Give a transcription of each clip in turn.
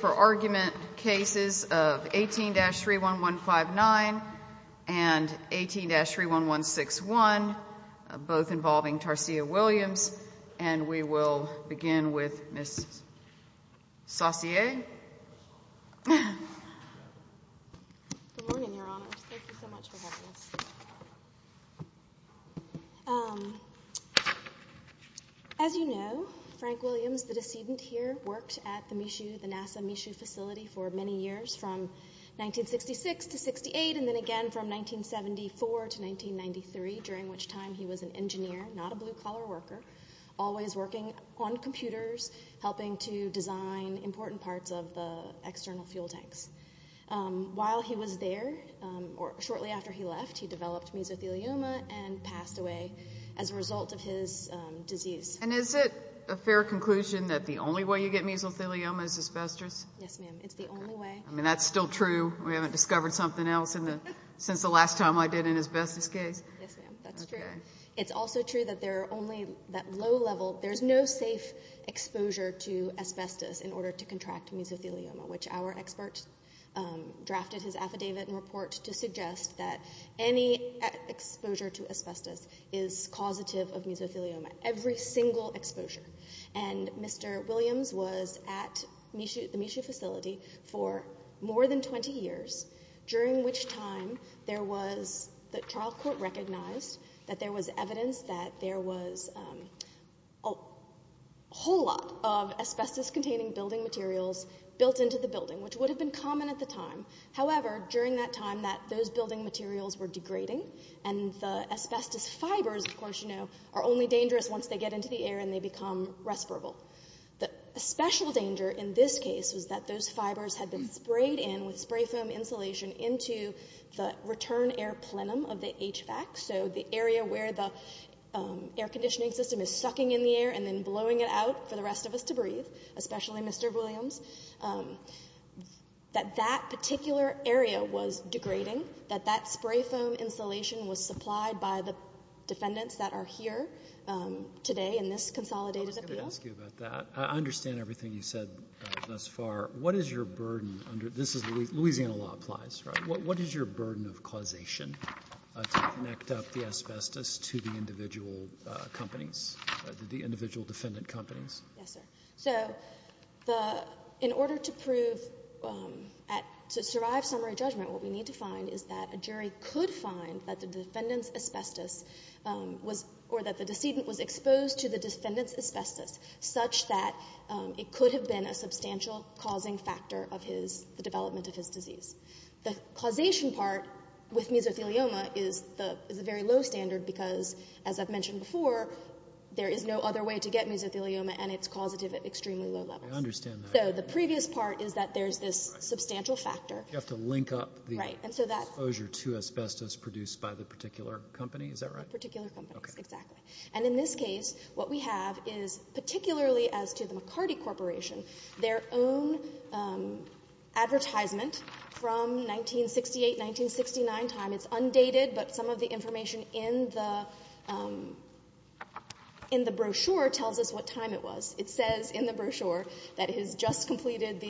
for argument cases of 18-31159 and 18-31161, both involving Tarsia Williams. And we will begin with Ms. Saucier. Good morning, Your Honor. Thank you so much for having us. As you know, Frank Williams, the decedent here, worked at the NASA Michoud facility for many years, from 1966 to 1968, and then again from 1974 to 1993, during which time he was an engineer, not a blue-collar worker, always working on computers, helping to design important parts of the external fuel tanks. While he was there, or shortly after he left, he developed mesothelioma and passed away as a result of his disease. And is it a fair conclusion that the only way you get mesothelioma is asbestos? Yes, ma'am. It's the only way. I mean, that's still true. We haven't discovered something else since the last time I did an asbestos case. Yes, ma'am. That's true. Okay. It's also true that there are only that low level, there's no safe exposure to asbestos in order to contract mesothelioma, which our expert drafted his affidavit and report to suggest that any exposure to asbestos is causative of mesothelioma. Every single exposure. And Mr. Williams was at the Michoud facility for more than 20 years, during which time the trial court recognized that there was evidence that there was a whole lot of asbestos-containing building materials built into the building, which would have been common at the time. However, during that time, those building materials were degrading, and the asbestos fibers, of course, you know, are only dangerous once they get into the air and they become respirable. A special danger in this case was that those fibers had been sprayed in with spray foam insulation into the return air plenum of the HVAC, so the area where the air conditioning system is sucking in the air and then blowing it out for the rest of us to breathe, especially Mr. Williams, that that particular area was degrading, that that spray foam insulation was supplied by the defendants that are here today in this consolidated appeal. Let me ask you about that. I understand everything you said thus far. What is your burden under this? Louisiana law applies, right? What is your burden of causation to connect up the asbestos to the individual companies, the individual defendant companies? Yes, sir. So in order to prove, to survive summary judgment, what we need to find is that a jury could find that the defendant's asbestos was or that the decedent was exposed to the defendant's asbestos, such that it could have been a substantial causing factor of the development of his disease. The causation part with mesothelioma is a very low standard because, as I've mentioned before, there is no other way to get mesothelioma, and it's causative at extremely low levels. I understand that. So the previous part is that there's this substantial factor. You have to link up the exposure to asbestos produced by the particular company. Is that right? The particular company. Okay. Exactly. And in this case, what we have is, particularly as to the McCarty Corporation, their own advertisement from 1968, 1969 time. It's undated, but some of the information in the brochure tells us what time it was. It says in the brochure that it has just completed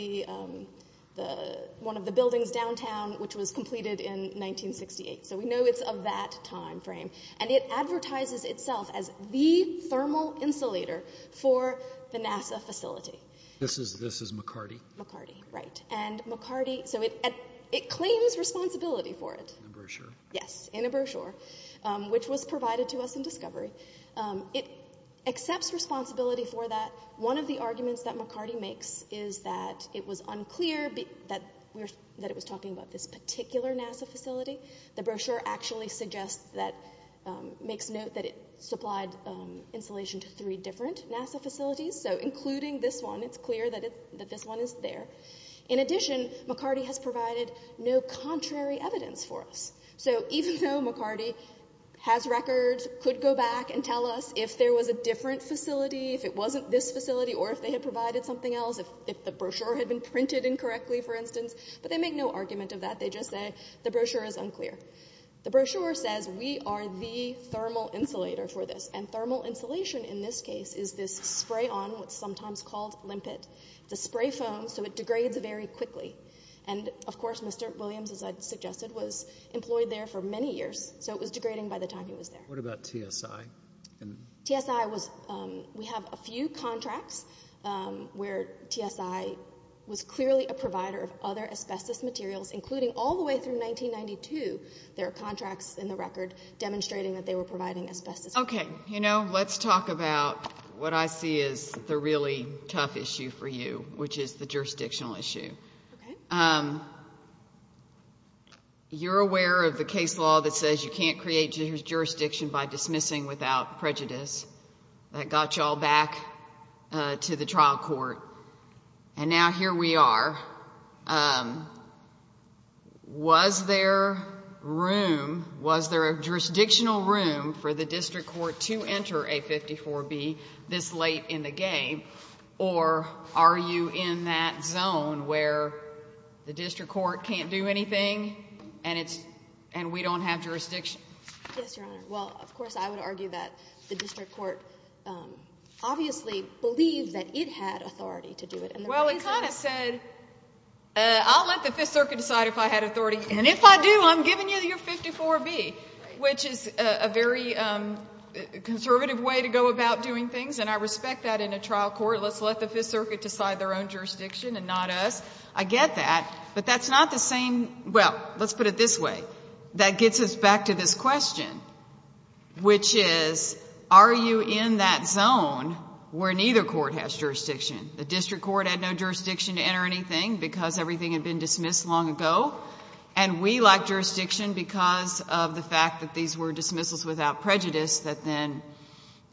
one of the buildings downtown, which was completed in 1968. So we know it's of that time frame. And it advertises itself as the thermal insulator for the NASA facility. This is McCarty? McCarty, right. And McCarty, so it claims responsibility for it. In a brochure. Yes, in a brochure, which was provided to us in discovery. It accepts responsibility for that. One of the arguments that McCarty makes is that it was unclear that it was talking about this particular NASA facility. The brochure actually suggests that, makes note that it supplied insulation to three different NASA facilities. So including this one, it's clear that this one is there. In addition, McCarty has provided no contrary evidence for us. So even though McCarty has records, could go back and tell us if there was a different facility, if it wasn't this facility, or if they had provided something else, if the brochure had been printed incorrectly, for instance, but they make no argument of that. They just say the brochure is unclear. The brochure says we are the thermal insulator for this. And thermal insulation in this case is this spray-on, what's sometimes called limpet. It's a spray foam, so it degrades very quickly. And, of course, Mr. Williams, as I suggested, was employed there for many years, so it was degrading by the time he was there. What about TSI? TSI was, we have a few contracts where TSI was clearly a provider of other asbestos materials, including all the way through 1992 there are contracts in the record demonstrating that they were providing asbestos. Okay. You know, let's talk about what I see as the really tough issue for you, which is the jurisdictional issue. You're aware of the case law that says you can't create jurisdiction by dismissing without prejudice. That got you all back to the trial court. And now here we are. Was there room, was there a jurisdictional room for the district court to enter A54B this late in the game, or are you in that zone where the district court can't do anything and we don't have jurisdiction? Yes, Your Honor. Well, of course, I would argue that the district court obviously believed that it had authority to do it. Well, it kind of said, I'll let the Fifth Circuit decide if I had authority, and if I do, I'm giving you your 54B, which is a very conservative way to go about doing things, and I respect that in a trial court. Let's let the Fifth Circuit decide their own jurisdiction and not us. I get that, but that's not the same. Well, let's put it this way. That gets us back to this question, which is, are you in that zone where neither court has jurisdiction? The district court had no jurisdiction to enter anything because everything had been dismissed long ago, and we lack jurisdiction because of the fact that these were dismissals without prejudice that then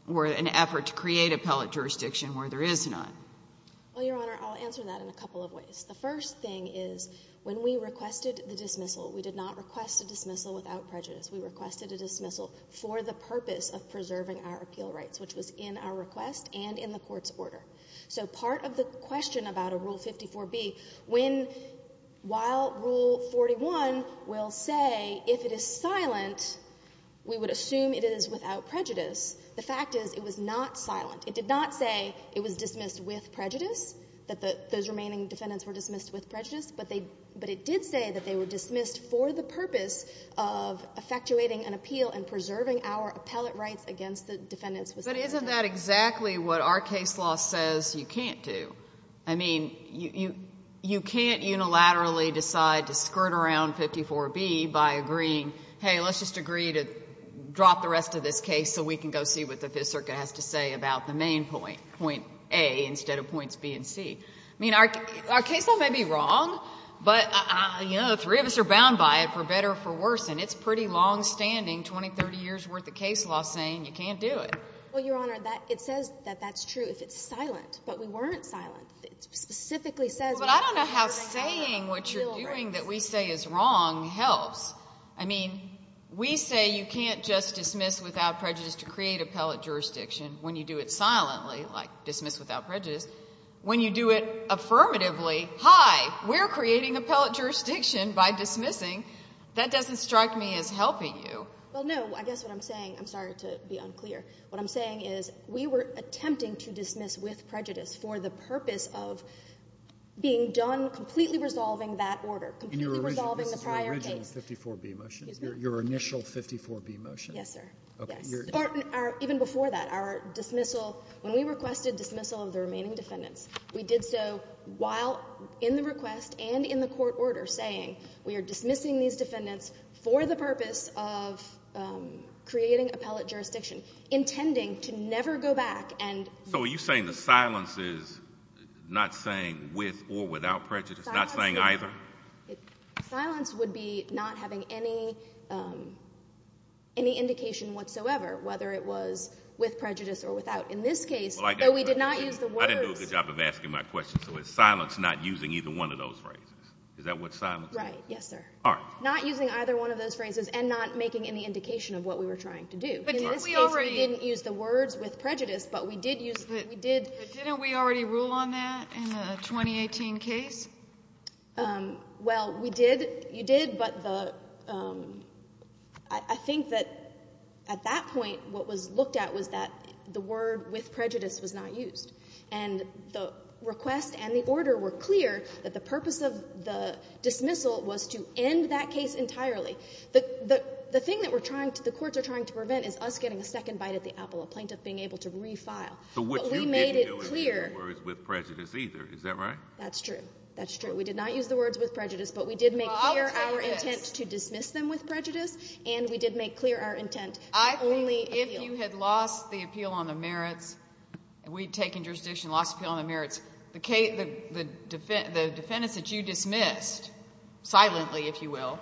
were an effort to create appellate jurisdiction where there is none. Well, Your Honor, I'll answer that in a couple of ways. The first thing is when we requested the dismissal, we did not request a dismissal without prejudice. We requested a dismissal for the purpose of preserving our appeal rights, which was in our request and in the Court's order. So part of the question about a Rule 54B, when, while Rule 41 will say if it is silent, we would assume it is without prejudice, the fact is it was not silent. It did not say it was dismissed with prejudice, that those remaining defendants were dismissed with prejudice, but it did say that they were dismissed for the purpose of effectuating an appeal and preserving our appellate rights against the defendants with prejudice. But isn't that exactly what our case law says you can't do? I mean, you can't unilaterally decide to skirt around 54B by agreeing, hey, let's just agree to drop the rest of this case so we can go see what the Fifth Circuit has to say about the main point, point A instead of points B and C. I mean, our case law may be wrong, but, you know, the three of us are bound by it for better or for worse, and it's pretty longstanding, 20, 30 years' worth of case law saying you can't do it. Well, Your Honor, it says that that's true if it's silent. But we weren't silent. It specifically says we have to preserve our appeal rights. Well, but I don't know how saying what you're doing that we say is wrong helps. I mean, we say you can't just dismiss without prejudice to create appellate jurisdiction when you do it silently, like dismiss without prejudice. When you do it affirmatively, hi, we're creating appellate jurisdiction by dismissing, that doesn't strike me as helping you. Well, no. I guess what I'm saying, I'm sorry to be unclear. What I'm saying is we were attempting to dismiss with prejudice for the purpose of being done completely resolving that order, completely resolving the prior case. And this is your original 54B motion? Excuse me? Your initial 54B motion? Yes, sir. Yes. Even before that, our dismissal, when we requested dismissal of the remaining defendants, we did so while in the request and in the court order saying we are dismissing these defendants for the purpose of creating appellate jurisdiction, intending to never go back and So are you saying the silence is not saying with or without prejudice, not saying either? Silence would be not having any indication whatsoever, whether it was with prejudice or without. In this case, though we did not use the words I didn't do a good job of asking my question. So is silence not using either one of those phrases? Is that what silence is? Right. Yes, sir. All right. Not using either one of those phrases and not making any indication of what we were trying to do. In this case, we didn't use the words with prejudice, but we did use the we did Didn't we already rule on that in the 2018 case? Well, we did. You did. But the I think that at that point what was looked at was that the word with prejudice was not used. And the request and the order were clear that the purpose of the dismissal was to end that case entirely. The thing that we're trying to the courts are trying to prevent is us getting a second bite at the apple, a plaintiff being able to refile. But we made it clear. But you didn't use the words with prejudice either. Is that right? That's true. That's true. We did not use the words with prejudice, but we did make clear our intent to dismiss them with prejudice. And we did make clear our intent only appeal. If you had lost the appeal on the merits, and we'd taken jurisdiction and lost appeal on the merits, the defendants that you dismissed silently, if you will,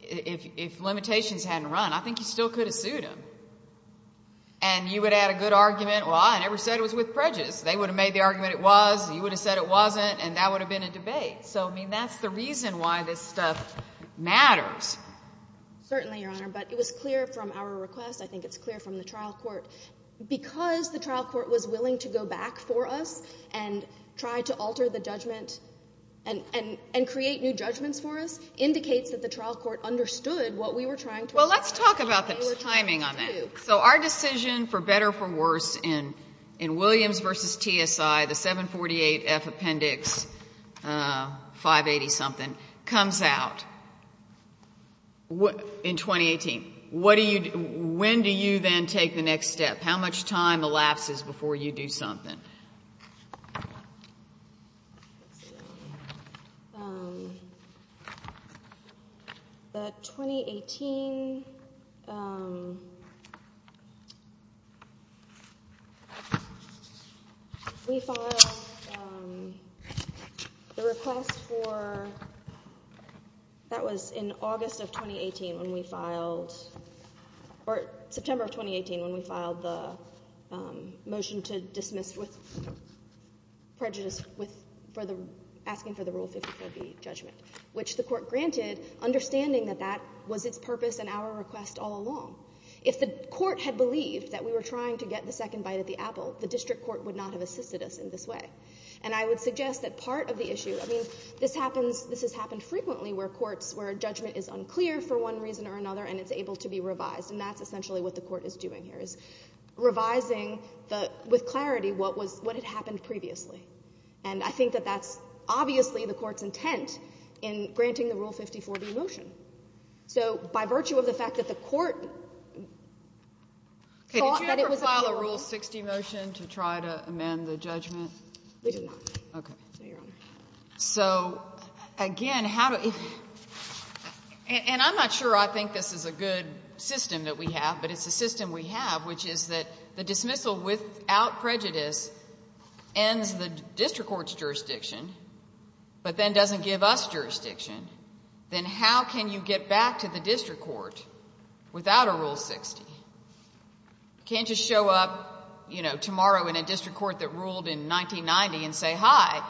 if limitations hadn't run, I think you still could have sued them. And you would have had a good argument. Well, I never said it was with prejudice. They would have made the argument it was. You would have said it wasn't. And that would have been a debate. So, I mean, that's the reason why this stuff matters. Certainly, Your Honor. But it was clear from our request. I think it's clear from the trial court. Because the trial court was willing to go back for us and try to alter the judgment and create new judgments for us indicates that the trial court understood what we were trying to accomplish. Well, let's talk about the timing on that. So our decision for better or worse in Williams v. TSI, the 748F appendix 580-something comes out in 2018. When do you then take the next step? How much time elapses before you do something? Let's see. The 2018... We filed the request for... That was in August of 2018 when we filed... Prejudice asking for the Rule 54B judgment, which the court granted, understanding that that was its purpose and our request all along. If the court had believed that we were trying to get the second bite at the apple, the district court would not have assisted us in this way. And I would suggest that part of the issue... I mean, this has happened frequently where judgment is unclear for one reason or another and it's able to be revised. And that's essentially what the court is doing here, is revising with clarity what had happened previously. And I think that that's obviously the court's intent in granting the Rule 54B motion. So by virtue of the fact that the court thought that it was... Did you ever file a Rule 60 motion to try to amend the judgment? We did not. Okay. No, Your Honor. So, again, how do... And I'm not sure I think this is a good system that we have, but it's a system we have, which is that the dismissal without prejudice ends the district court's jurisdiction, but then doesn't give us jurisdiction. Then how can you get back to the district court without a Rule 60? You can't just show up, you know, tomorrow in a district court that ruled in 1990 and say, hi,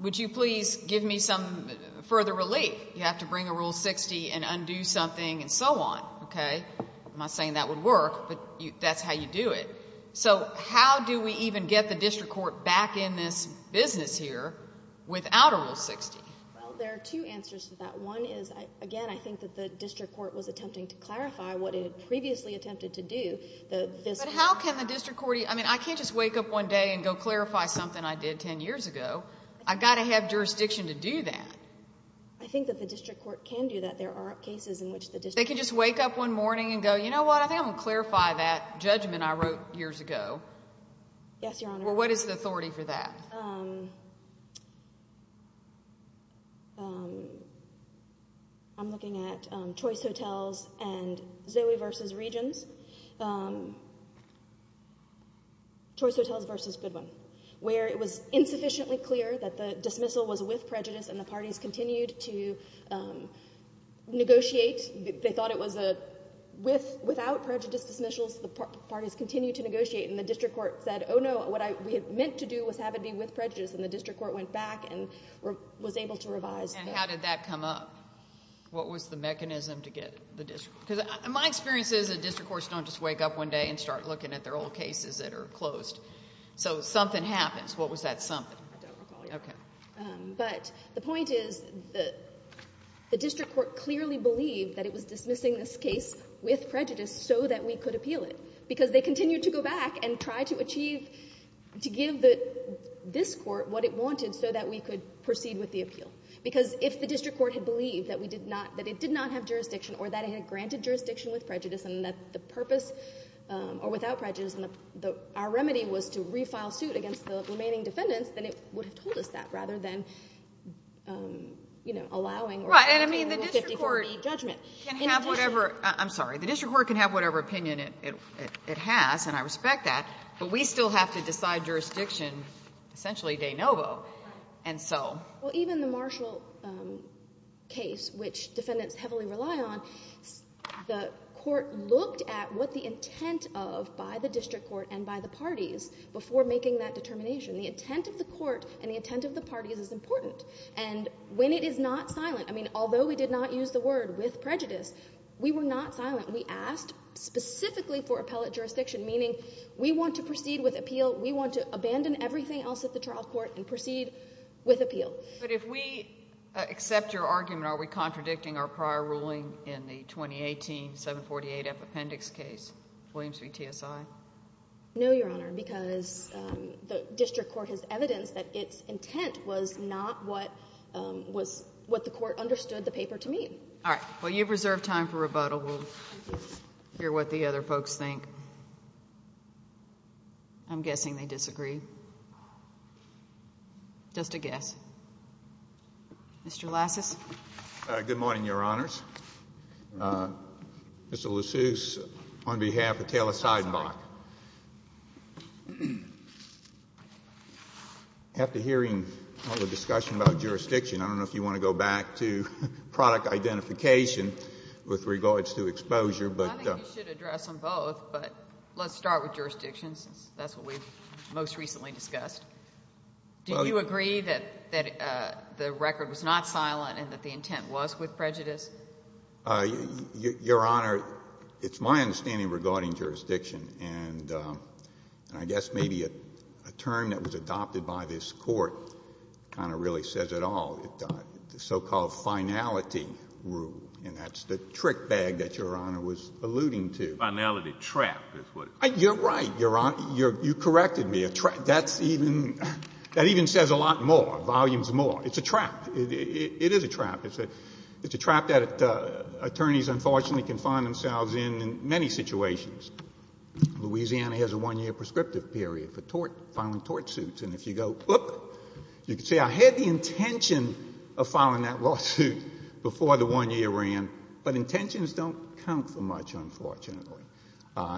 would you please give me some further relief? You have to bring a Rule 60 and undo something and so on, okay? I'm not saying that would work, but that's how you do it. So how do we even get the district court back in this business here without a Rule 60? Well, there are two answers to that. One is, again, I think that the district court was attempting to clarify what it had previously attempted to do. But how can the district court... I mean, I can't just wake up one day and go clarify something I did 10 years ago. I've got to have jurisdiction to do that. There are cases in which the district court... They can just wake up one morning and go, you know what, I think I'm going to clarify that judgment I wrote years ago. Yes, Your Honor. Well, what is the authority for that? I'm looking at Choice Hotels and Zoe v. Regions. Choice Hotels v. Goodwin, where it was insufficiently clear that the dismissal was with prejudice and the parties continued to negotiate. They thought it was a... Without prejudice dismissals, the parties continued to negotiate, and the district court said, oh no, what we had meant to do was have it be with prejudice. And the district court went back and was able to revise. And how did that come up? What was the mechanism to get the district... Because my experience is that district courts don't just wake up one day and start looking at their old cases that are closed. So something happens. What was that something? I don't recall, Your Honor. Okay. But the point is that the district court clearly believed that it was dismissing this case with prejudice so that we could appeal it, because they continued to go back and try to achieve, to give this court what it wanted so that we could proceed with the appeal. Because if the district court had believed that it did not have jurisdiction or that it had granted jurisdiction with prejudice and that the purpose, or without prejudice, our remedy was to refile suit against the remaining defendants, then it would have told us that rather than, you know, allowing or obtaining a 50-40 Right. And I mean, the district court can have whatever... I'm sorry. The district court can have whatever opinion it has, and I respect that, but we still have to decide jurisdiction essentially de novo. And so... Well, even the Marshall case, which defendants heavily rely on, the court looked at what the intent of, by the district court and by the parties, before making that determination. The intent of the court and the intent of the parties is important, and when it is not silent, I mean, although we did not use the word with prejudice, we were not silent. We asked specifically for appellate jurisdiction, meaning we want to proceed with appeal, we want to abandon everything else at the trial court and proceed with appeal. But if we accept your argument, are we contradicting our prior ruling in the 2018 748F appendix case, Williams v. TSI? No, Your Honor, because the district court has evidence that its intent was not what the court understood the paper to mean. All right. Well, you've reserved time for rebuttal. We'll hear what the other folks think. I'm guessing they disagree. Just a guess. Mr. Lassus. Good morning, Your Honors. Mr. Lassus, on behalf of Taylor Seidenbach. After hearing all the discussion about jurisdiction, I don't know if you want to go back to product identification with regards to exposure, but — I think you should address them both, but let's start with jurisdiction, since that's what we've most recently discussed. Do you agree that the record was not silent and that the intent was with prejudice? Your Honor, it's my understanding regarding jurisdiction, and I guess maybe a term that was adopted by this Court kind of really says it all, the so-called finality rule, and that's the trick bag that Your Honor was alluding to. Finality trap is what it's called. You're right, Your Honor. You corrected me. A trap, that's even — that even says a lot more, volumes more. It's a trap. It is a trap. It's a trap that attorneys, unfortunately, can find themselves in in many situations. Louisiana has a one-year prescriptive period for filing tort suits, and if you go, whoop, you can say, I had the intention of filing that lawsuit before the one-year ran, but intentions don't count for much, unfortunately.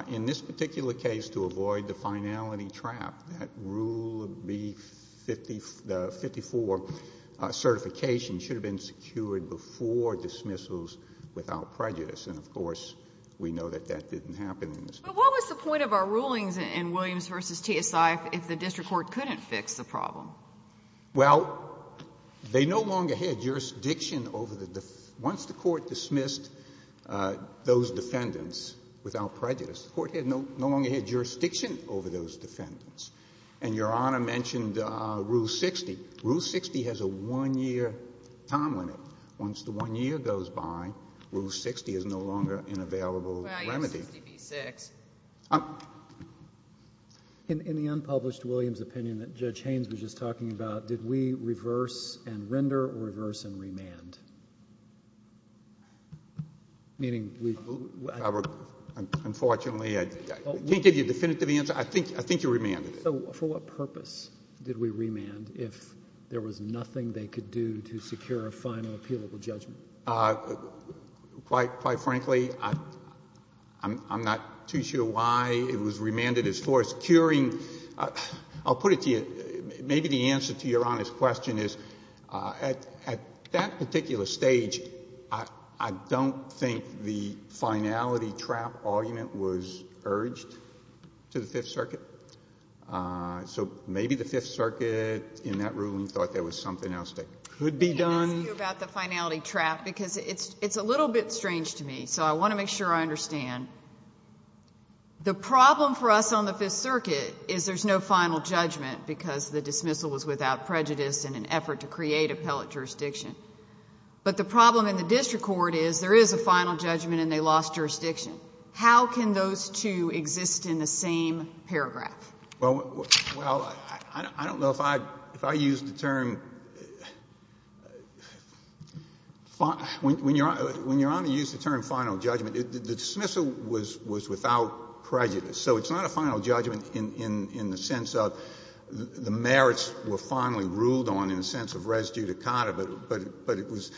In this particular case, to avoid the finality trap, that Rule B54 certification should have been secured before dismissals without prejudice. And, of course, we know that that didn't happen in this case. But what was the point of our rulings in Williams v. TSI if the district court couldn't fix the problem? Well, they no longer had jurisdiction over the — once the Court dismissed those defendants without prejudice, the Court had no longer had jurisdiction over those defendants. And Your Honor mentioned Rule 60. Rule 60 has a one-year time limit. Once the one year goes by, Rule 60 is no longer an available remedy. Well, you have 60B6. In the unpublished Williams opinion that Judge Haynes was just talking about, did we reverse and render or reverse and remand? Meaning we — Unfortunately, I can't give you a definitive answer. I think you remanded it. So for what purpose did we remand if there was nothing they could do to secure a final appealable judgment? Quite frankly, I'm not too sure why it was remanded as forced curing. I'll put it to you. Maybe the answer to Your Honor's question is at that particular stage, I don't think the finality trap argument was urged to the Fifth Circuit. So maybe the Fifth Circuit in that room thought there was something else that could be done. Let me ask you about the finality trap because it's a little bit strange to me. So I want to make sure I understand. The problem for us on the Fifth Circuit is there's no final judgment because the dismissal was without prejudice in an effort to create appellate jurisdiction. But the problem in the district court is there is a final judgment and they lost jurisdiction. How can those two exist in the same paragraph? Well, I don't know if I used the term — when Your Honor used the term final judgment, the dismissal was without prejudice. So it's not a final judgment in the sense of the merits were finally ruled on in the But it was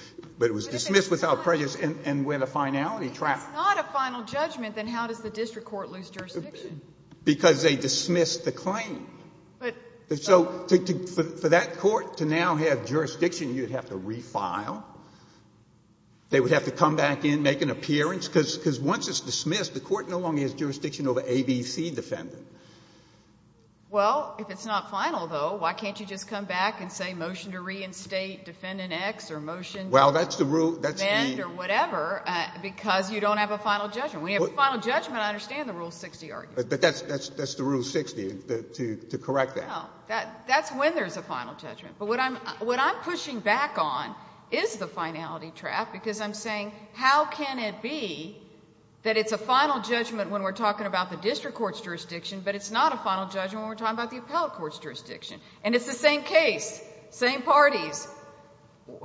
dismissed without prejudice and with a finality trap. If it's not a final judgment, then how does the district court lose jurisdiction? Because they dismissed the claim. So for that court to now have jurisdiction, you would have to refile. They would have to come back in, make an appearance, because once it's dismissed, the court no longer has jurisdiction over ABC defendant. Well, if it's not final, though, why can't you just come back and say motion to reinstate defendant X or motion to amend or whatever because you don't have a final judgment? When you have a final judgment, I understand the Rule 60 argument. But that's the Rule 60 to correct that. No, that's when there's a final judgment. But what I'm pushing back on is the finality trap because I'm saying how can it be that it's a final judgment when we're talking about the district court's jurisdiction, but it's not a final judgment when we're talking about the appellate court's jurisdiction? And it's the same case, same parties.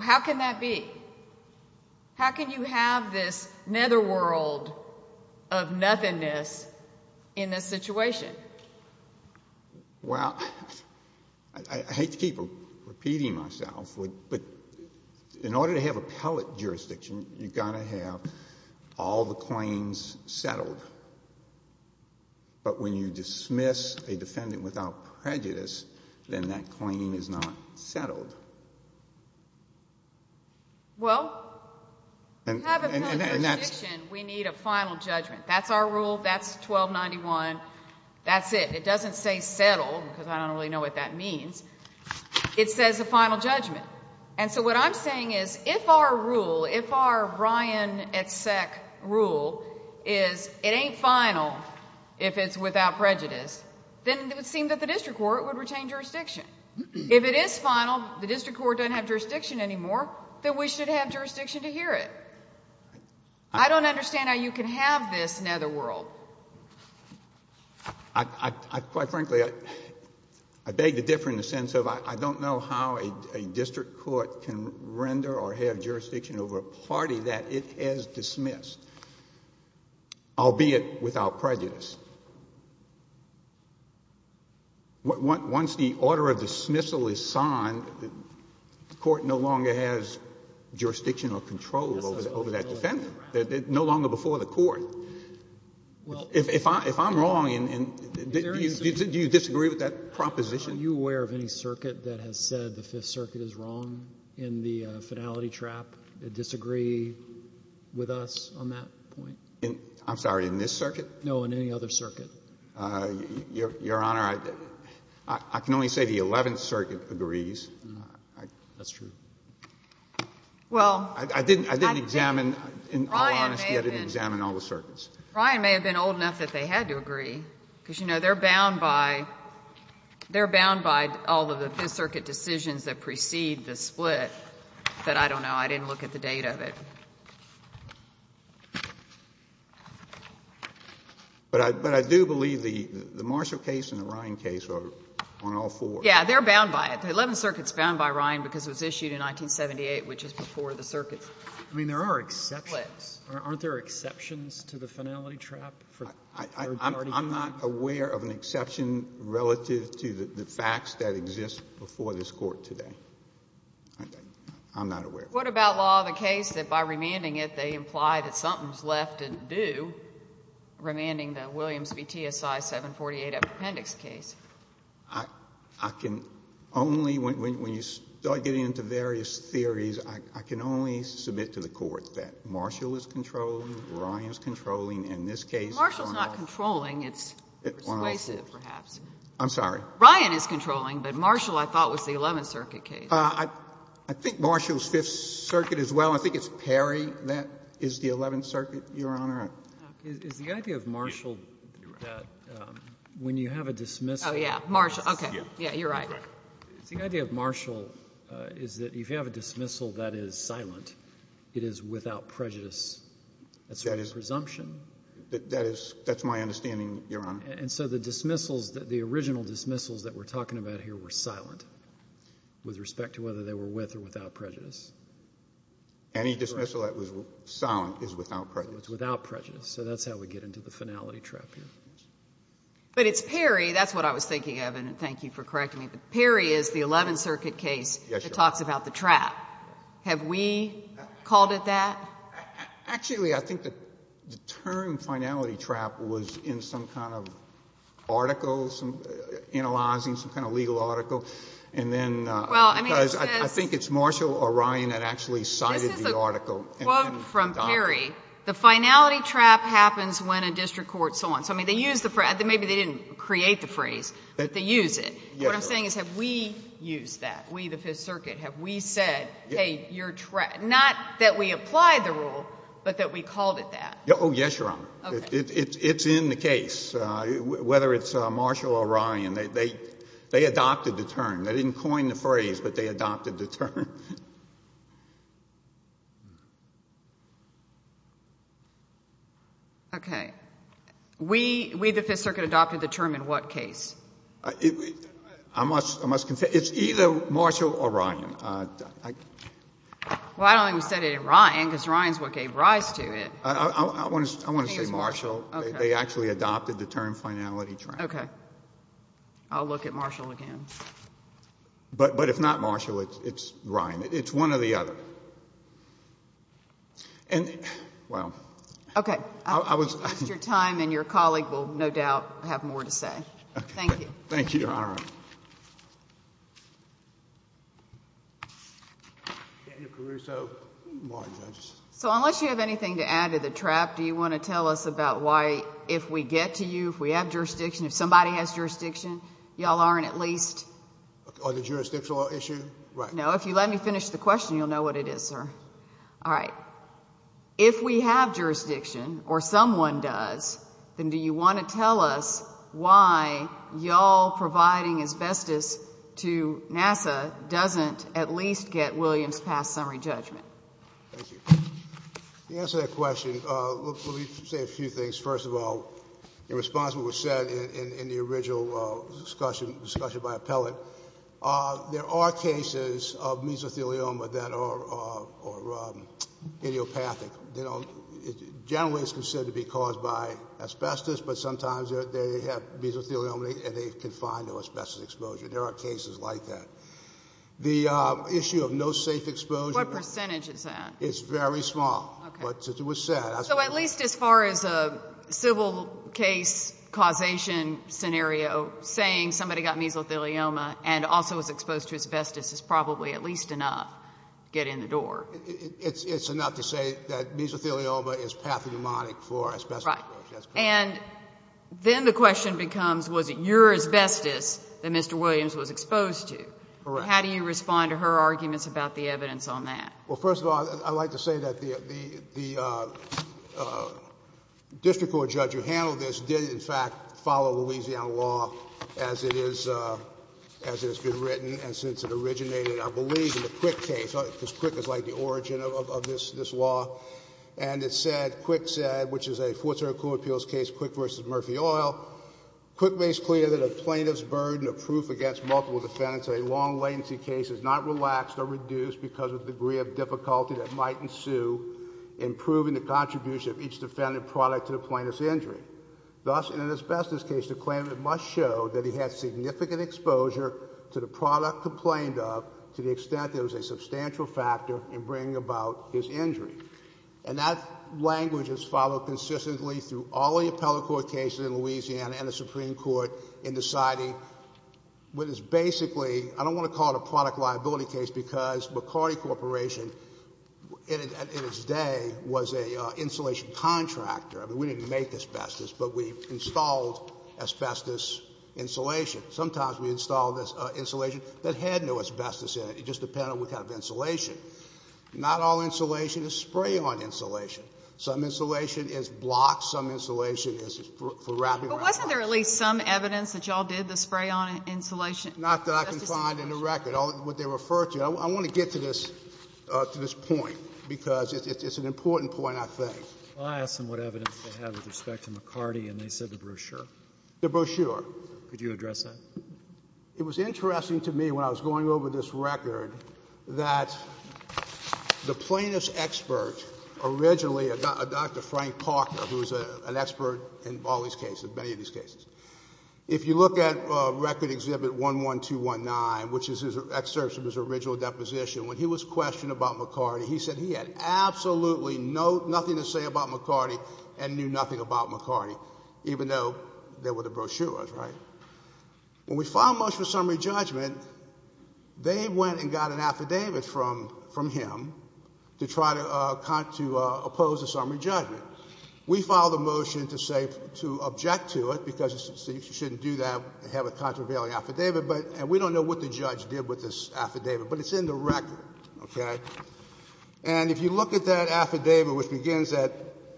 How can that be? How can you have this netherworld of nothingness in this situation? Well, I hate to keep repeating myself, but in order to have appellate jurisdiction, you've got to have all the claims settled. But when you dismiss a defendant without prejudice, then that claim is not settled. Well, to have appellate jurisdiction, we need a final judgment. That's our rule. That's 1291. That's it. It doesn't say settled because I don't really know what that means. It says a final judgment. And so what I'm saying is if our rule, if our Ryan et sec rule is it ain't final if it's without prejudice, then it would seem that the district court would retain jurisdiction. If it is final, the district court doesn't have jurisdiction anymore, then we should have jurisdiction to hear it. I don't understand how you can have this netherworld. I, quite frankly, I beg to differ in the sense of I don't know how a district court can render or have jurisdiction over a party that it has dismissed, albeit without prejudice. Once the order of dismissal is signed, the court no longer has jurisdiction or control over that defendant. No longer before the court. If I'm wrong, do you disagree with that proposition? Are you aware of any circuit that has said the Fifth Circuit is wrong in the finality trap, disagree with us on that point? I'm sorry, in this circuit? No, in any other circuit. Your Honor, I can only say the Eleventh Circuit agrees. That's true. Well, I didn't examine, in all honesty, I didn't examine all the circuits. Ryan may have been old enough that they had to agree, because, you know, they're bound by, they're bound by all of the Fifth Circuit decisions that precede the split that I don't know, I didn't look at the date of it. But I do believe the Marshall case and the Ryan case are on all four. Yeah, they're bound by it. The Eleventh Circuit is bound by Ryan because it was issued in 1978, which is before the circuit split. I mean, there are exceptions. Aren't there exceptions to the finality trap? I'm not aware of an exception relative to the facts that exist before this Court today. I'm not aware of that. What about law of the case that by remanding it, they imply that something's left undue, remanding the Williams v. TSI 748 Appendix case? I can only, when you start getting into various theories, I can only submit to the Court that Marshall is controlling, Ryan is controlling, and this case is on all four. But Marshall's not controlling. It's persuasive, perhaps. I'm sorry. Ryan is controlling, but Marshall, I thought, was the Eleventh Circuit case. I think Marshall's Fifth Circuit as well. I think it's Perry that is the Eleventh Circuit, Your Honor. Is the idea of Marshall that when you have a dismissal. Oh, yeah. Marshall, okay. Yeah, you're right. The idea of Marshall is that if you have a dismissal that is silent, it is without prejudice. That's a presumption. That is, that's my understanding, Your Honor. And so the dismissals, the original dismissals that we're talking about here were silent with respect to whether they were with or without prejudice. Any dismissal that was silent is without prejudice. So that's how we get into the finality trap here. But it's Perry. That's what I was thinking of, and thank you for correcting me. But Perry is the Eleventh Circuit case that talks about the trap. Yes, Your Honor. Have we called it that? Actually, I think the term finality trap was in some kind of article, some analyzing some kind of legal article, and then because I think it's Marshall or Ryan that actually cited the article. Quote from Perry, the finality trap happens when a district court so on. So, I mean, they use the phrase. Maybe they didn't create the phrase, but they use it. What I'm saying is have we used that, we, the Fifth Circuit? Have we said, hey, you're not that we applied the rule, but that we called it that? Oh, yes, Your Honor. It's in the case. Whether it's Marshall or Ryan, they adopted the term. They didn't coin the phrase, but they adopted the term. Okay. We, the Fifth Circuit, adopted the term in what case? I must confess. It's either Marshall or Ryan. Well, I don't think we said it in Ryan because Ryan is what gave rise to it. I want to say Marshall. They actually adopted the term finality trap. Okay. I'll look at Marshall again. But if not Marshall, it's Ryan. It's one or the other. And, well. Okay. Your time and your colleague will no doubt have more to say. Thank you. Thank you, Your Honor. Daniel Caruso. So, unless you have anything to add to the trap, do you want to tell us about why if we get to you, if we have jurisdiction, if somebody has jurisdiction, y'all aren't at least? On the jurisdictional issue? Right. No, if you let me finish the question, you'll know what it is, sir. All right. If we have jurisdiction, or someone does, then do you want to tell us why y'all providing asbestos to NASA doesn't at least get Williams' past summary judgment? Thank you. To answer that question, let me say a few things. First of all, in response to what was said in the original discussion by Appellant, there are cases of mesothelioma that are idiopathic. They don't generally consider to be caused by asbestos, but sometimes they have mesothelioma and they've confined to asbestos exposure. There are cases like that. The issue of no safe exposure. What percentage is that? It's very small. Okay. But it was said. So at least as far as a civil case causation scenario, saying somebody got mesothelioma and also was exposed to asbestos is probably at least enough to get in the door. It's enough to say that mesothelioma is pathognomonic for asbestos exposure. Right. And then the question becomes, was it your asbestos that Mr. Williams was exposed to? Correct. How do you respond to her arguments about the evidence on that? Well, first of all, I'd like to say that the district court judge who handled this did, in fact, follow Louisiana law as it is been written and since it originated, I believe, in the Quick case, because Quick is like the origin of this law. And it said, Quick said, which is a Fourth Circuit Court of Appeals case, Quick v. Murphy Oil, Quick makes clear that a plaintiff's burden of proof against multiple defendants in a long latency case is not relaxed or reduced because of the degree of difficulty that might ensue in proving the contribution of each defendant's product to the plaintiff's injury. Thus, in an asbestos case, the claimant must show that he had significant exposure to the product complained of to the extent there was a substantial factor in bringing about his injury. And that language is followed consistently through all the appellate court cases in Louisiana and the Supreme Court in deciding what is basically, I don't want to call it a product liability case, because McCarty Corporation in its day was an insulation contractor. I mean, we didn't make asbestos, but we installed asbestos insulation. Sometimes we installed this insulation that had no asbestos in it. It just depended on what kind of insulation. Not all insulation is spray-on insulation. Some insulation is block. Some insulation is for wrapping around. But wasn't there at least some evidence that you all did the spray-on insulation? Not that I can find in the record, what they refer to. I want to get to this point because it's an important point, I think. I asked them what evidence they had with respect to McCarty, and they said the brochure. The brochure. Could you address that? It was interesting to me when I was going over this record that the plaintiff's expert originally, Dr. Frank Parker, who is an expert in all these cases, many of these cases. If you look at Record Exhibit 11219, which is an excerpt from his original deposition, when he was questioned about McCarty, he said he had absolutely nothing to say about McCarty and knew nothing about McCarty, even though they were the brochures, right? When we filed motion for summary judgment, they went and got an affidavit from him to try to oppose the summary judgment. We filed a motion to object to it because you shouldn't do that, have a contravailing affidavit, and we don't know what the judge did with this affidavit, but it's in the record, okay? And if you look at that affidavit, which begins at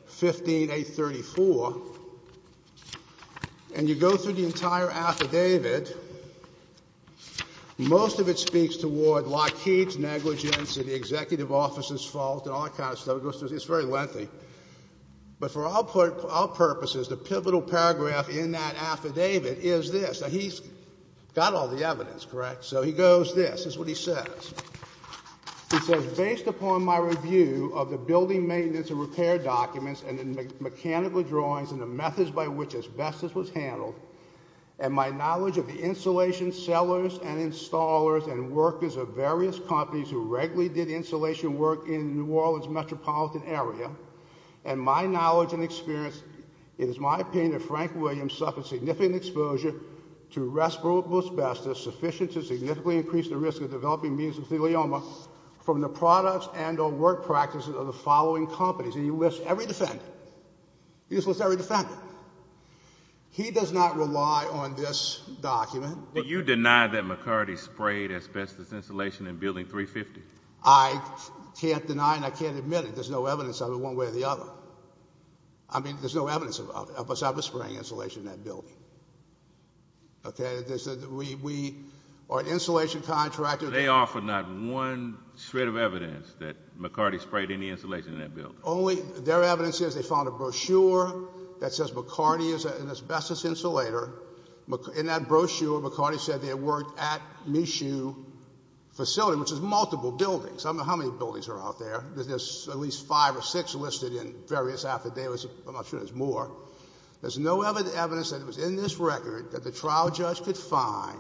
15834, and you go through the entire affidavit, most of it speaks toward Lockheed's negligence and the executive officer's fault and all that kind of stuff. It's very lengthy. But for our purposes, the pivotal paragraph in that affidavit is this. Now, he's got all the evidence, correct? So he goes this. This is what he says. He says, based upon my review of the building maintenance and repair documents and the mechanical drawings and the methods by which asbestos was handled and my knowledge of the insulation sellers and installers and workers of various companies who regularly did insulation work in New Orleans metropolitan area, and my knowledge and experience, it is my opinion that Frank Williams suffered significant exposure to respirable asbestos sufficient to significantly increase the risk of developing mesothelioma from the products and or work practices of the following companies. He just lists every defendant. He does not rely on this document. But you deny that McCarty sprayed asbestos insulation in Building 350. I can't deny and I can't admit it. There's no evidence of it one way or the other. I mean, there's no evidence of us ever spraying insulation in that building. Okay? We are an insulation contractor. They offer not one shred of evidence that McCarty sprayed any insulation in that building. Their evidence is they found a brochure that says McCarty is an asbestos insulator. In that brochure, McCarty said they had worked at Michoud facility, which is multiple buildings. I don't know how many buildings are out there. There's at least five or six listed in various affidavits. I'm not sure there's more. There's no evidence that was in this record that the trial judge could find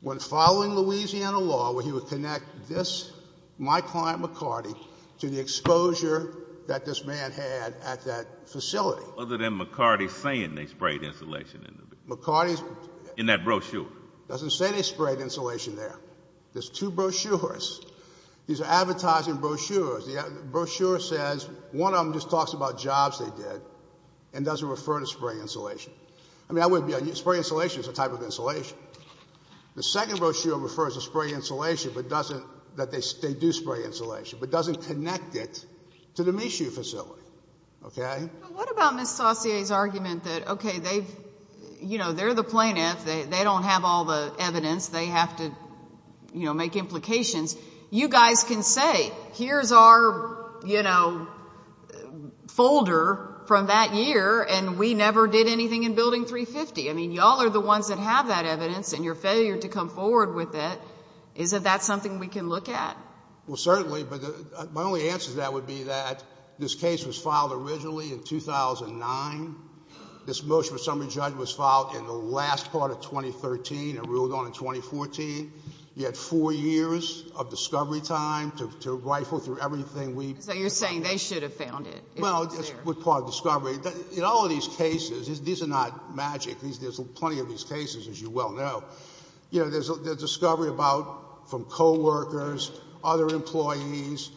when following Louisiana law where he would connect this, my client McCarty, to the exposure that this man had at that facility. Other than McCarty saying they sprayed insulation in that brochure. McCarty doesn't say they sprayed insulation there. There's two brochures. These are advertising brochures. The brochure says one of them just talks about jobs they did and doesn't refer to spray insulation. I mean, spray insulation is a type of insulation. The second brochure refers to spray insulation but doesn't, that they do spray insulation, but doesn't connect it to the Michoud facility. Okay? What about Ms. Saucier's argument that, okay, they've, you know, they're the plaintiff. They don't have all the evidence. They have to, you know, make implications. You guys can say here's our, you know, folder from that year, and we never did anything in Building 350. I mean, you all are the ones that have that evidence, and your failure to come forward with it, isn't that something we can look at? Well, certainly, but my only answer to that would be that this case was filed originally in 2009. This motion for summary judge was filed in the last part of 2013 and ruled on in 2014. You had four years of discovery time to rifle through everything we... So you're saying they should have found it. Well, it's part of discovery. In all of these cases, these are not magic. There's plenty of these cases, as you well know. You know, there's discovery about from coworkers, other employees,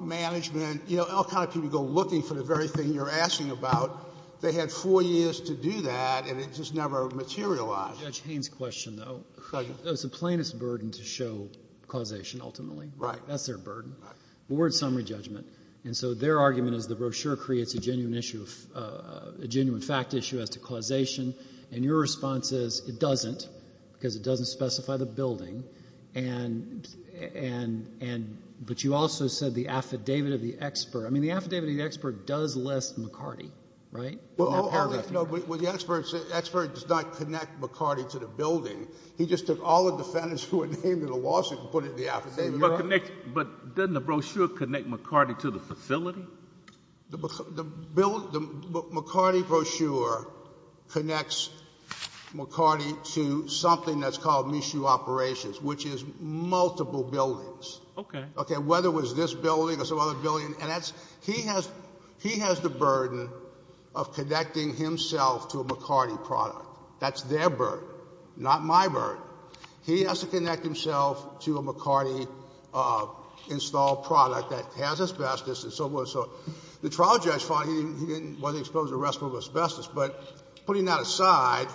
management, you know, all kind of people go looking for the very thing you're asking about. They had four years to do that, and it just never materialized. Judge Haynes' question, though. It was the plaintiff's burden to show causation ultimately. Right. That's their burden. Right. But we're at summary judgment. And so their argument is the brochure creates a genuine issue, a genuine fact issue as to causation. And your response is it doesn't because it doesn't specify the building. But you also said the affidavit of the expert. I mean, the affidavit of the expert does list McCarty, right? Well, the expert does not connect McCarty to the building. He just took all the defendants who were named in the lawsuit and put it in the affidavit. But doesn't the brochure connect McCarty to the facility? The McCarty brochure connects McCarty to something that's called Michoud Operations, which is multiple buildings. Okay. Whether it was this building or some other building. And he has the burden of connecting himself to a McCarty product. That's their burden, not my burden. He has to connect himself to a McCarty installed product that has asbestos and so forth. So the trial judge found he wasn't exposed to the rest of the asbestos. But putting that aside,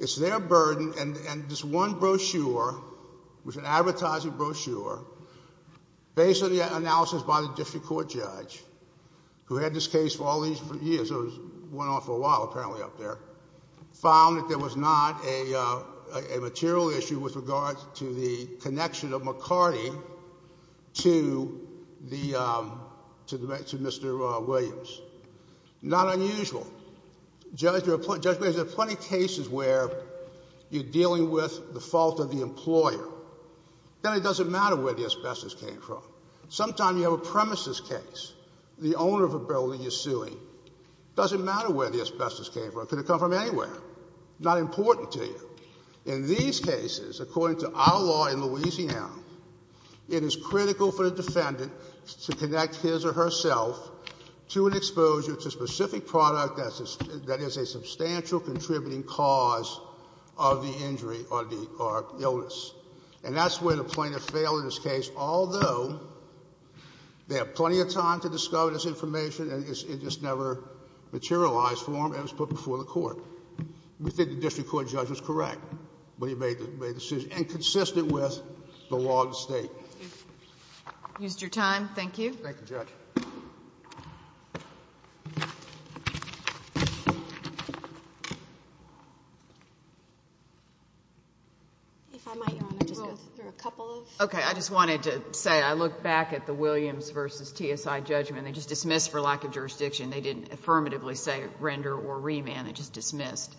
it's their burden. And this one brochure, which is an advertising brochure, based on the analysis by the district court judge, who had this case for all these years, went on for a while apparently up there, found that there was not a material issue with regards to the connection of McCarty to Mr. Williams. Not unusual. Judge, there are plenty of cases where you're dealing with the fault of the employer. Then it doesn't matter where the asbestos came from. Sometimes you have a premises case. The owner of a building you're suing. It doesn't matter where the asbestos came from. It could have come from anywhere. Not important to you. In these cases, according to our law in Louisiana, it is critical for the defendant to connect his or herself to an exposure to a specific product that is a substantial contributing cause of the injury or the illness. And that's where the plaintiff failed in this case, although they have plenty of time to discover this information and it just never materialized for them and it was put before the court. We think the district court judge was correct when he made the decision, and consistent with the law of the state. Thank you. You used your time. Thank you. Thank you, Judge. If I might, Your Honor, just go through a couple of... Okay. I just wanted to say I look back at the Williams v. TSI judgment. They just dismissed for lack of jurisdiction. They didn't affirmatively say render or remand. They just dismissed.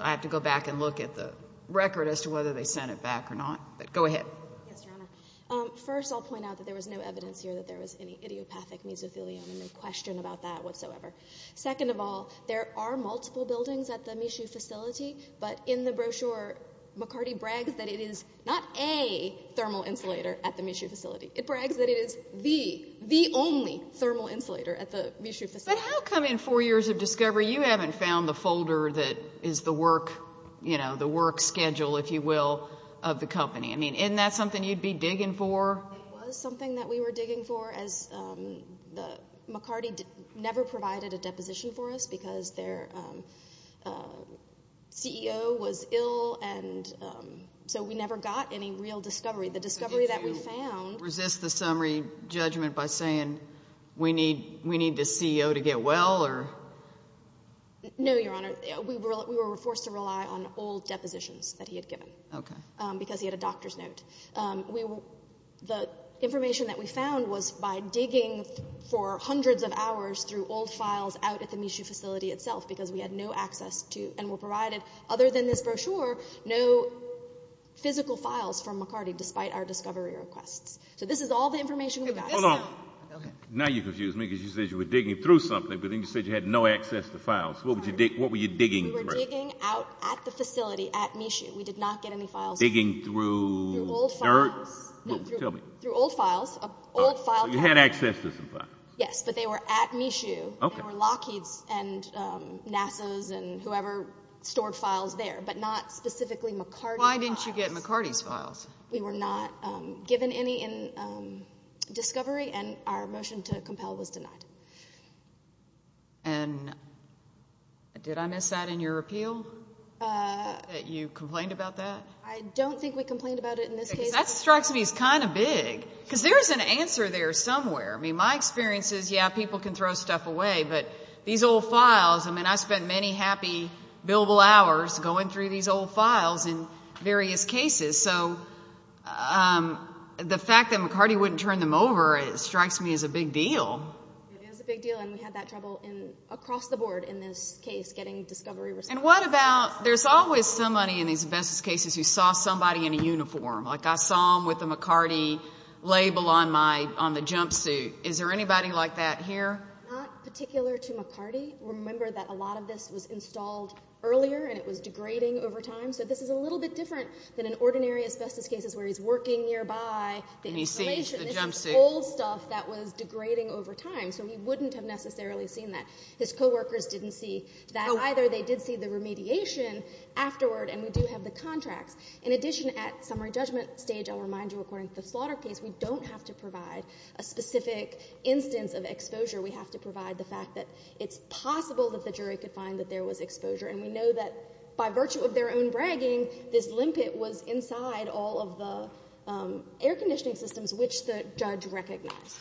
I have to go back and look at the record as to whether they sent it back or not. But go ahead. Yes, Your Honor. First, I'll point out that there was no evidence here that there was any idiopathic mesothelium and no question about that whatsoever. Second of all, there are multiple buildings at the Michoud facility, but in the brochure, McCarty brags that it is not a thermal insulator at the Michoud facility. It brags that it is the, the only thermal insulator at the Michoud facility. But how come in four years of discovery you haven't found the folder that is the work, you know, the work schedule, if you will, of the company? I mean, isn't that something you'd be digging for? It was something that we were digging for as the... McCarty never provided a deposition for us because their CEO was ill, and so we never got any real discovery. The discovery that we found... So did you resist the summary judgment by saying we need the CEO to get well or... No, Your Honor. We were forced to rely on old depositions that he had given because he had a doctor's note. The information that we found was by digging for hundreds of hours through old files out at the Michoud facility itself because we had no access to other than this brochure, no physical files from McCarty despite our discovery requests. So this is all the information we got. Hold on. Now you confuse me because you said you were digging through something, but then you said you had no access to files. What were you digging for? We were digging out at the facility at Michoud. We did not get any files. Digging through dirt? Through old files. Tell me. Through old files. So you had access to some files. Yes, but they were at Michoud. They were Lockheed's and NASA's and whoever stored files there, but not specifically McCarty's files. Why didn't you get McCarty's files? We were not given any in discovery, and our motion to compel was denied. And did I miss that in your appeal, that you complained about that? I don't think we complained about it in this case. That strikes me as kind of big because there is an answer there somewhere. I mean, my experience is, yeah, people can throw stuff away, but these old files, I mean, I spent many happy billable hours going through these old files in various cases. So the fact that McCarty wouldn't turn them over strikes me as a big deal. It is a big deal, and we had that trouble across the board in this case getting discovery receipts. And what about, there's always somebody in these investigative cases who saw somebody in a uniform. Like I saw him with a McCarty label on the jumpsuit. Is there anybody like that here? Not particular to McCarty. Remember that a lot of this was installed earlier, and it was degrading over time. So this is a little bit different than in ordinary asbestos cases where he's working nearby. And he sees the jumpsuit. This is old stuff that was degrading over time, so he wouldn't have necessarily seen that. His coworkers didn't see that either. They did see the remediation afterward, and we do have the contracts. In addition, at summary judgment stage, I'll remind you, according to the slaughter case, we don't have to provide a specific instance of exposure. We have to provide the fact that it's possible that the jury could find that there was exposure, and we know that by virtue of their own bragging, this limpet was inside all of the air conditioning systems which the judge recognized.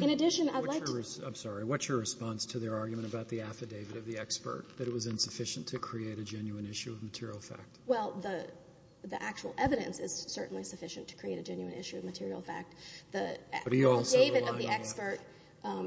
In addition, I'd like to ---- I'm sorry. What's your response to their argument about the affidavit of the expert, that it was the actual evidence is certainly sufficient to create a genuine issue of material fact. But he also relied on that. The affidavit of the expert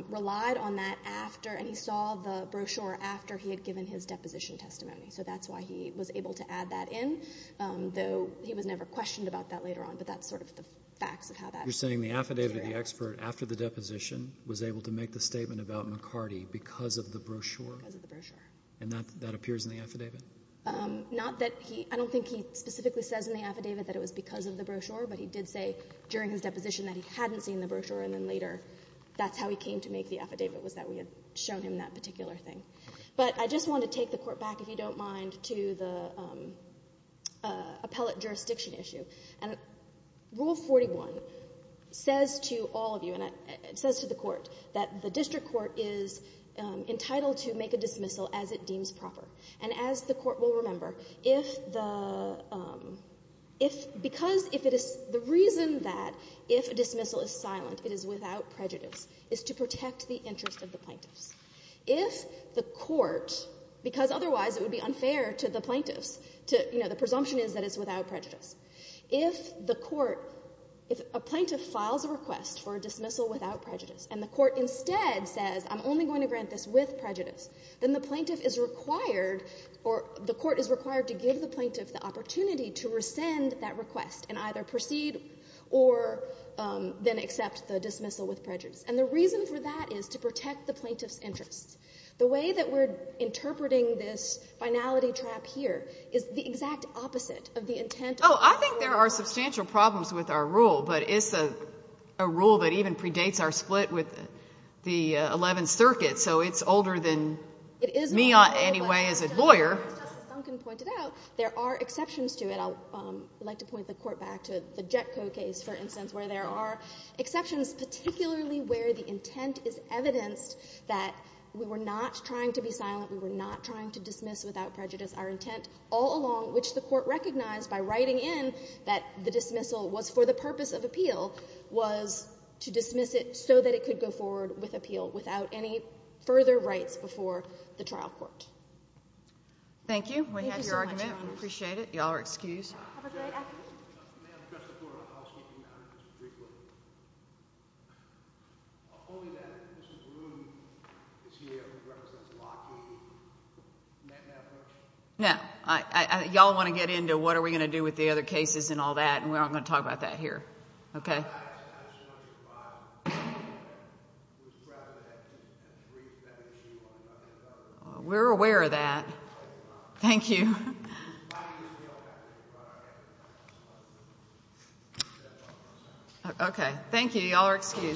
relied on that after, and he saw the brochure after he had given his deposition testimony. So that's why he was able to add that in, though he was never questioned about that later on. But that's sort of the facts of how that material ---- You're saying the affidavit of the expert after the deposition was able to make the statement about McCarty because of the brochure? Because of the brochure. And that appears in the affidavit? Not that he ---- I don't think he specifically says in the affidavit that it was because of the brochure, but he did say during his deposition that he hadn't seen the brochure and then later that's how he came to make the affidavit was that we had shown him that particular thing. But I just want to take the Court back, if you don't mind, to the appellate jurisdiction issue. Rule 41 says to all of you, and it says to the Court, that the district court is entitled to make a dismissal as it deems proper. And as the Court will remember, if the ---- because if it is ---- the reason that if a dismissal is silent, it is without prejudice, is to protect the interest of the plaintiffs. If the Court, because otherwise it would be unfair to the plaintiffs to ---- you know, the presumption is that it's without prejudice. If the Court ---- if a plaintiff files a request for a dismissal without prejudice and the Court instead says I'm only going to grant this with prejudice, then the plaintiff is required or the Court is required to give the plaintiff the opportunity to rescind that request and either proceed or then accept the dismissal with prejudice. And the reason for that is to protect the plaintiff's interest. The way that we're interpreting this finality trap here is the exact opposite of the intent of the rule. Oh, I think there are substantial problems with our rule, but it's a rule that even though it's not any way as a lawyer. Justice Duncan pointed out there are exceptions to it. I would like to point the Court back to the JETCO case, for instance, where there are exceptions, particularly where the intent is evidenced that we were not trying to be silent, we were not trying to dismiss without prejudice. Our intent all along, which the Court recognized by writing in that the dismissal was for the purpose of appeal, was to dismiss it so that it could go forward with the trial court. Thank you. We have your argument. We appreciate it. Y'all are excused. Have a great afternoon. May I address the Court on a housekeeping matter? Just briefly. Only that Mrs. Bloom is here who represents Lockheed. Isn't that fair? No. Y'all want to get into what are we going to do with the other cases and all that, and we aren't going to talk about that here. Okay. I just want you to revise. We're aware of that. Thank you. Okay. Thank you.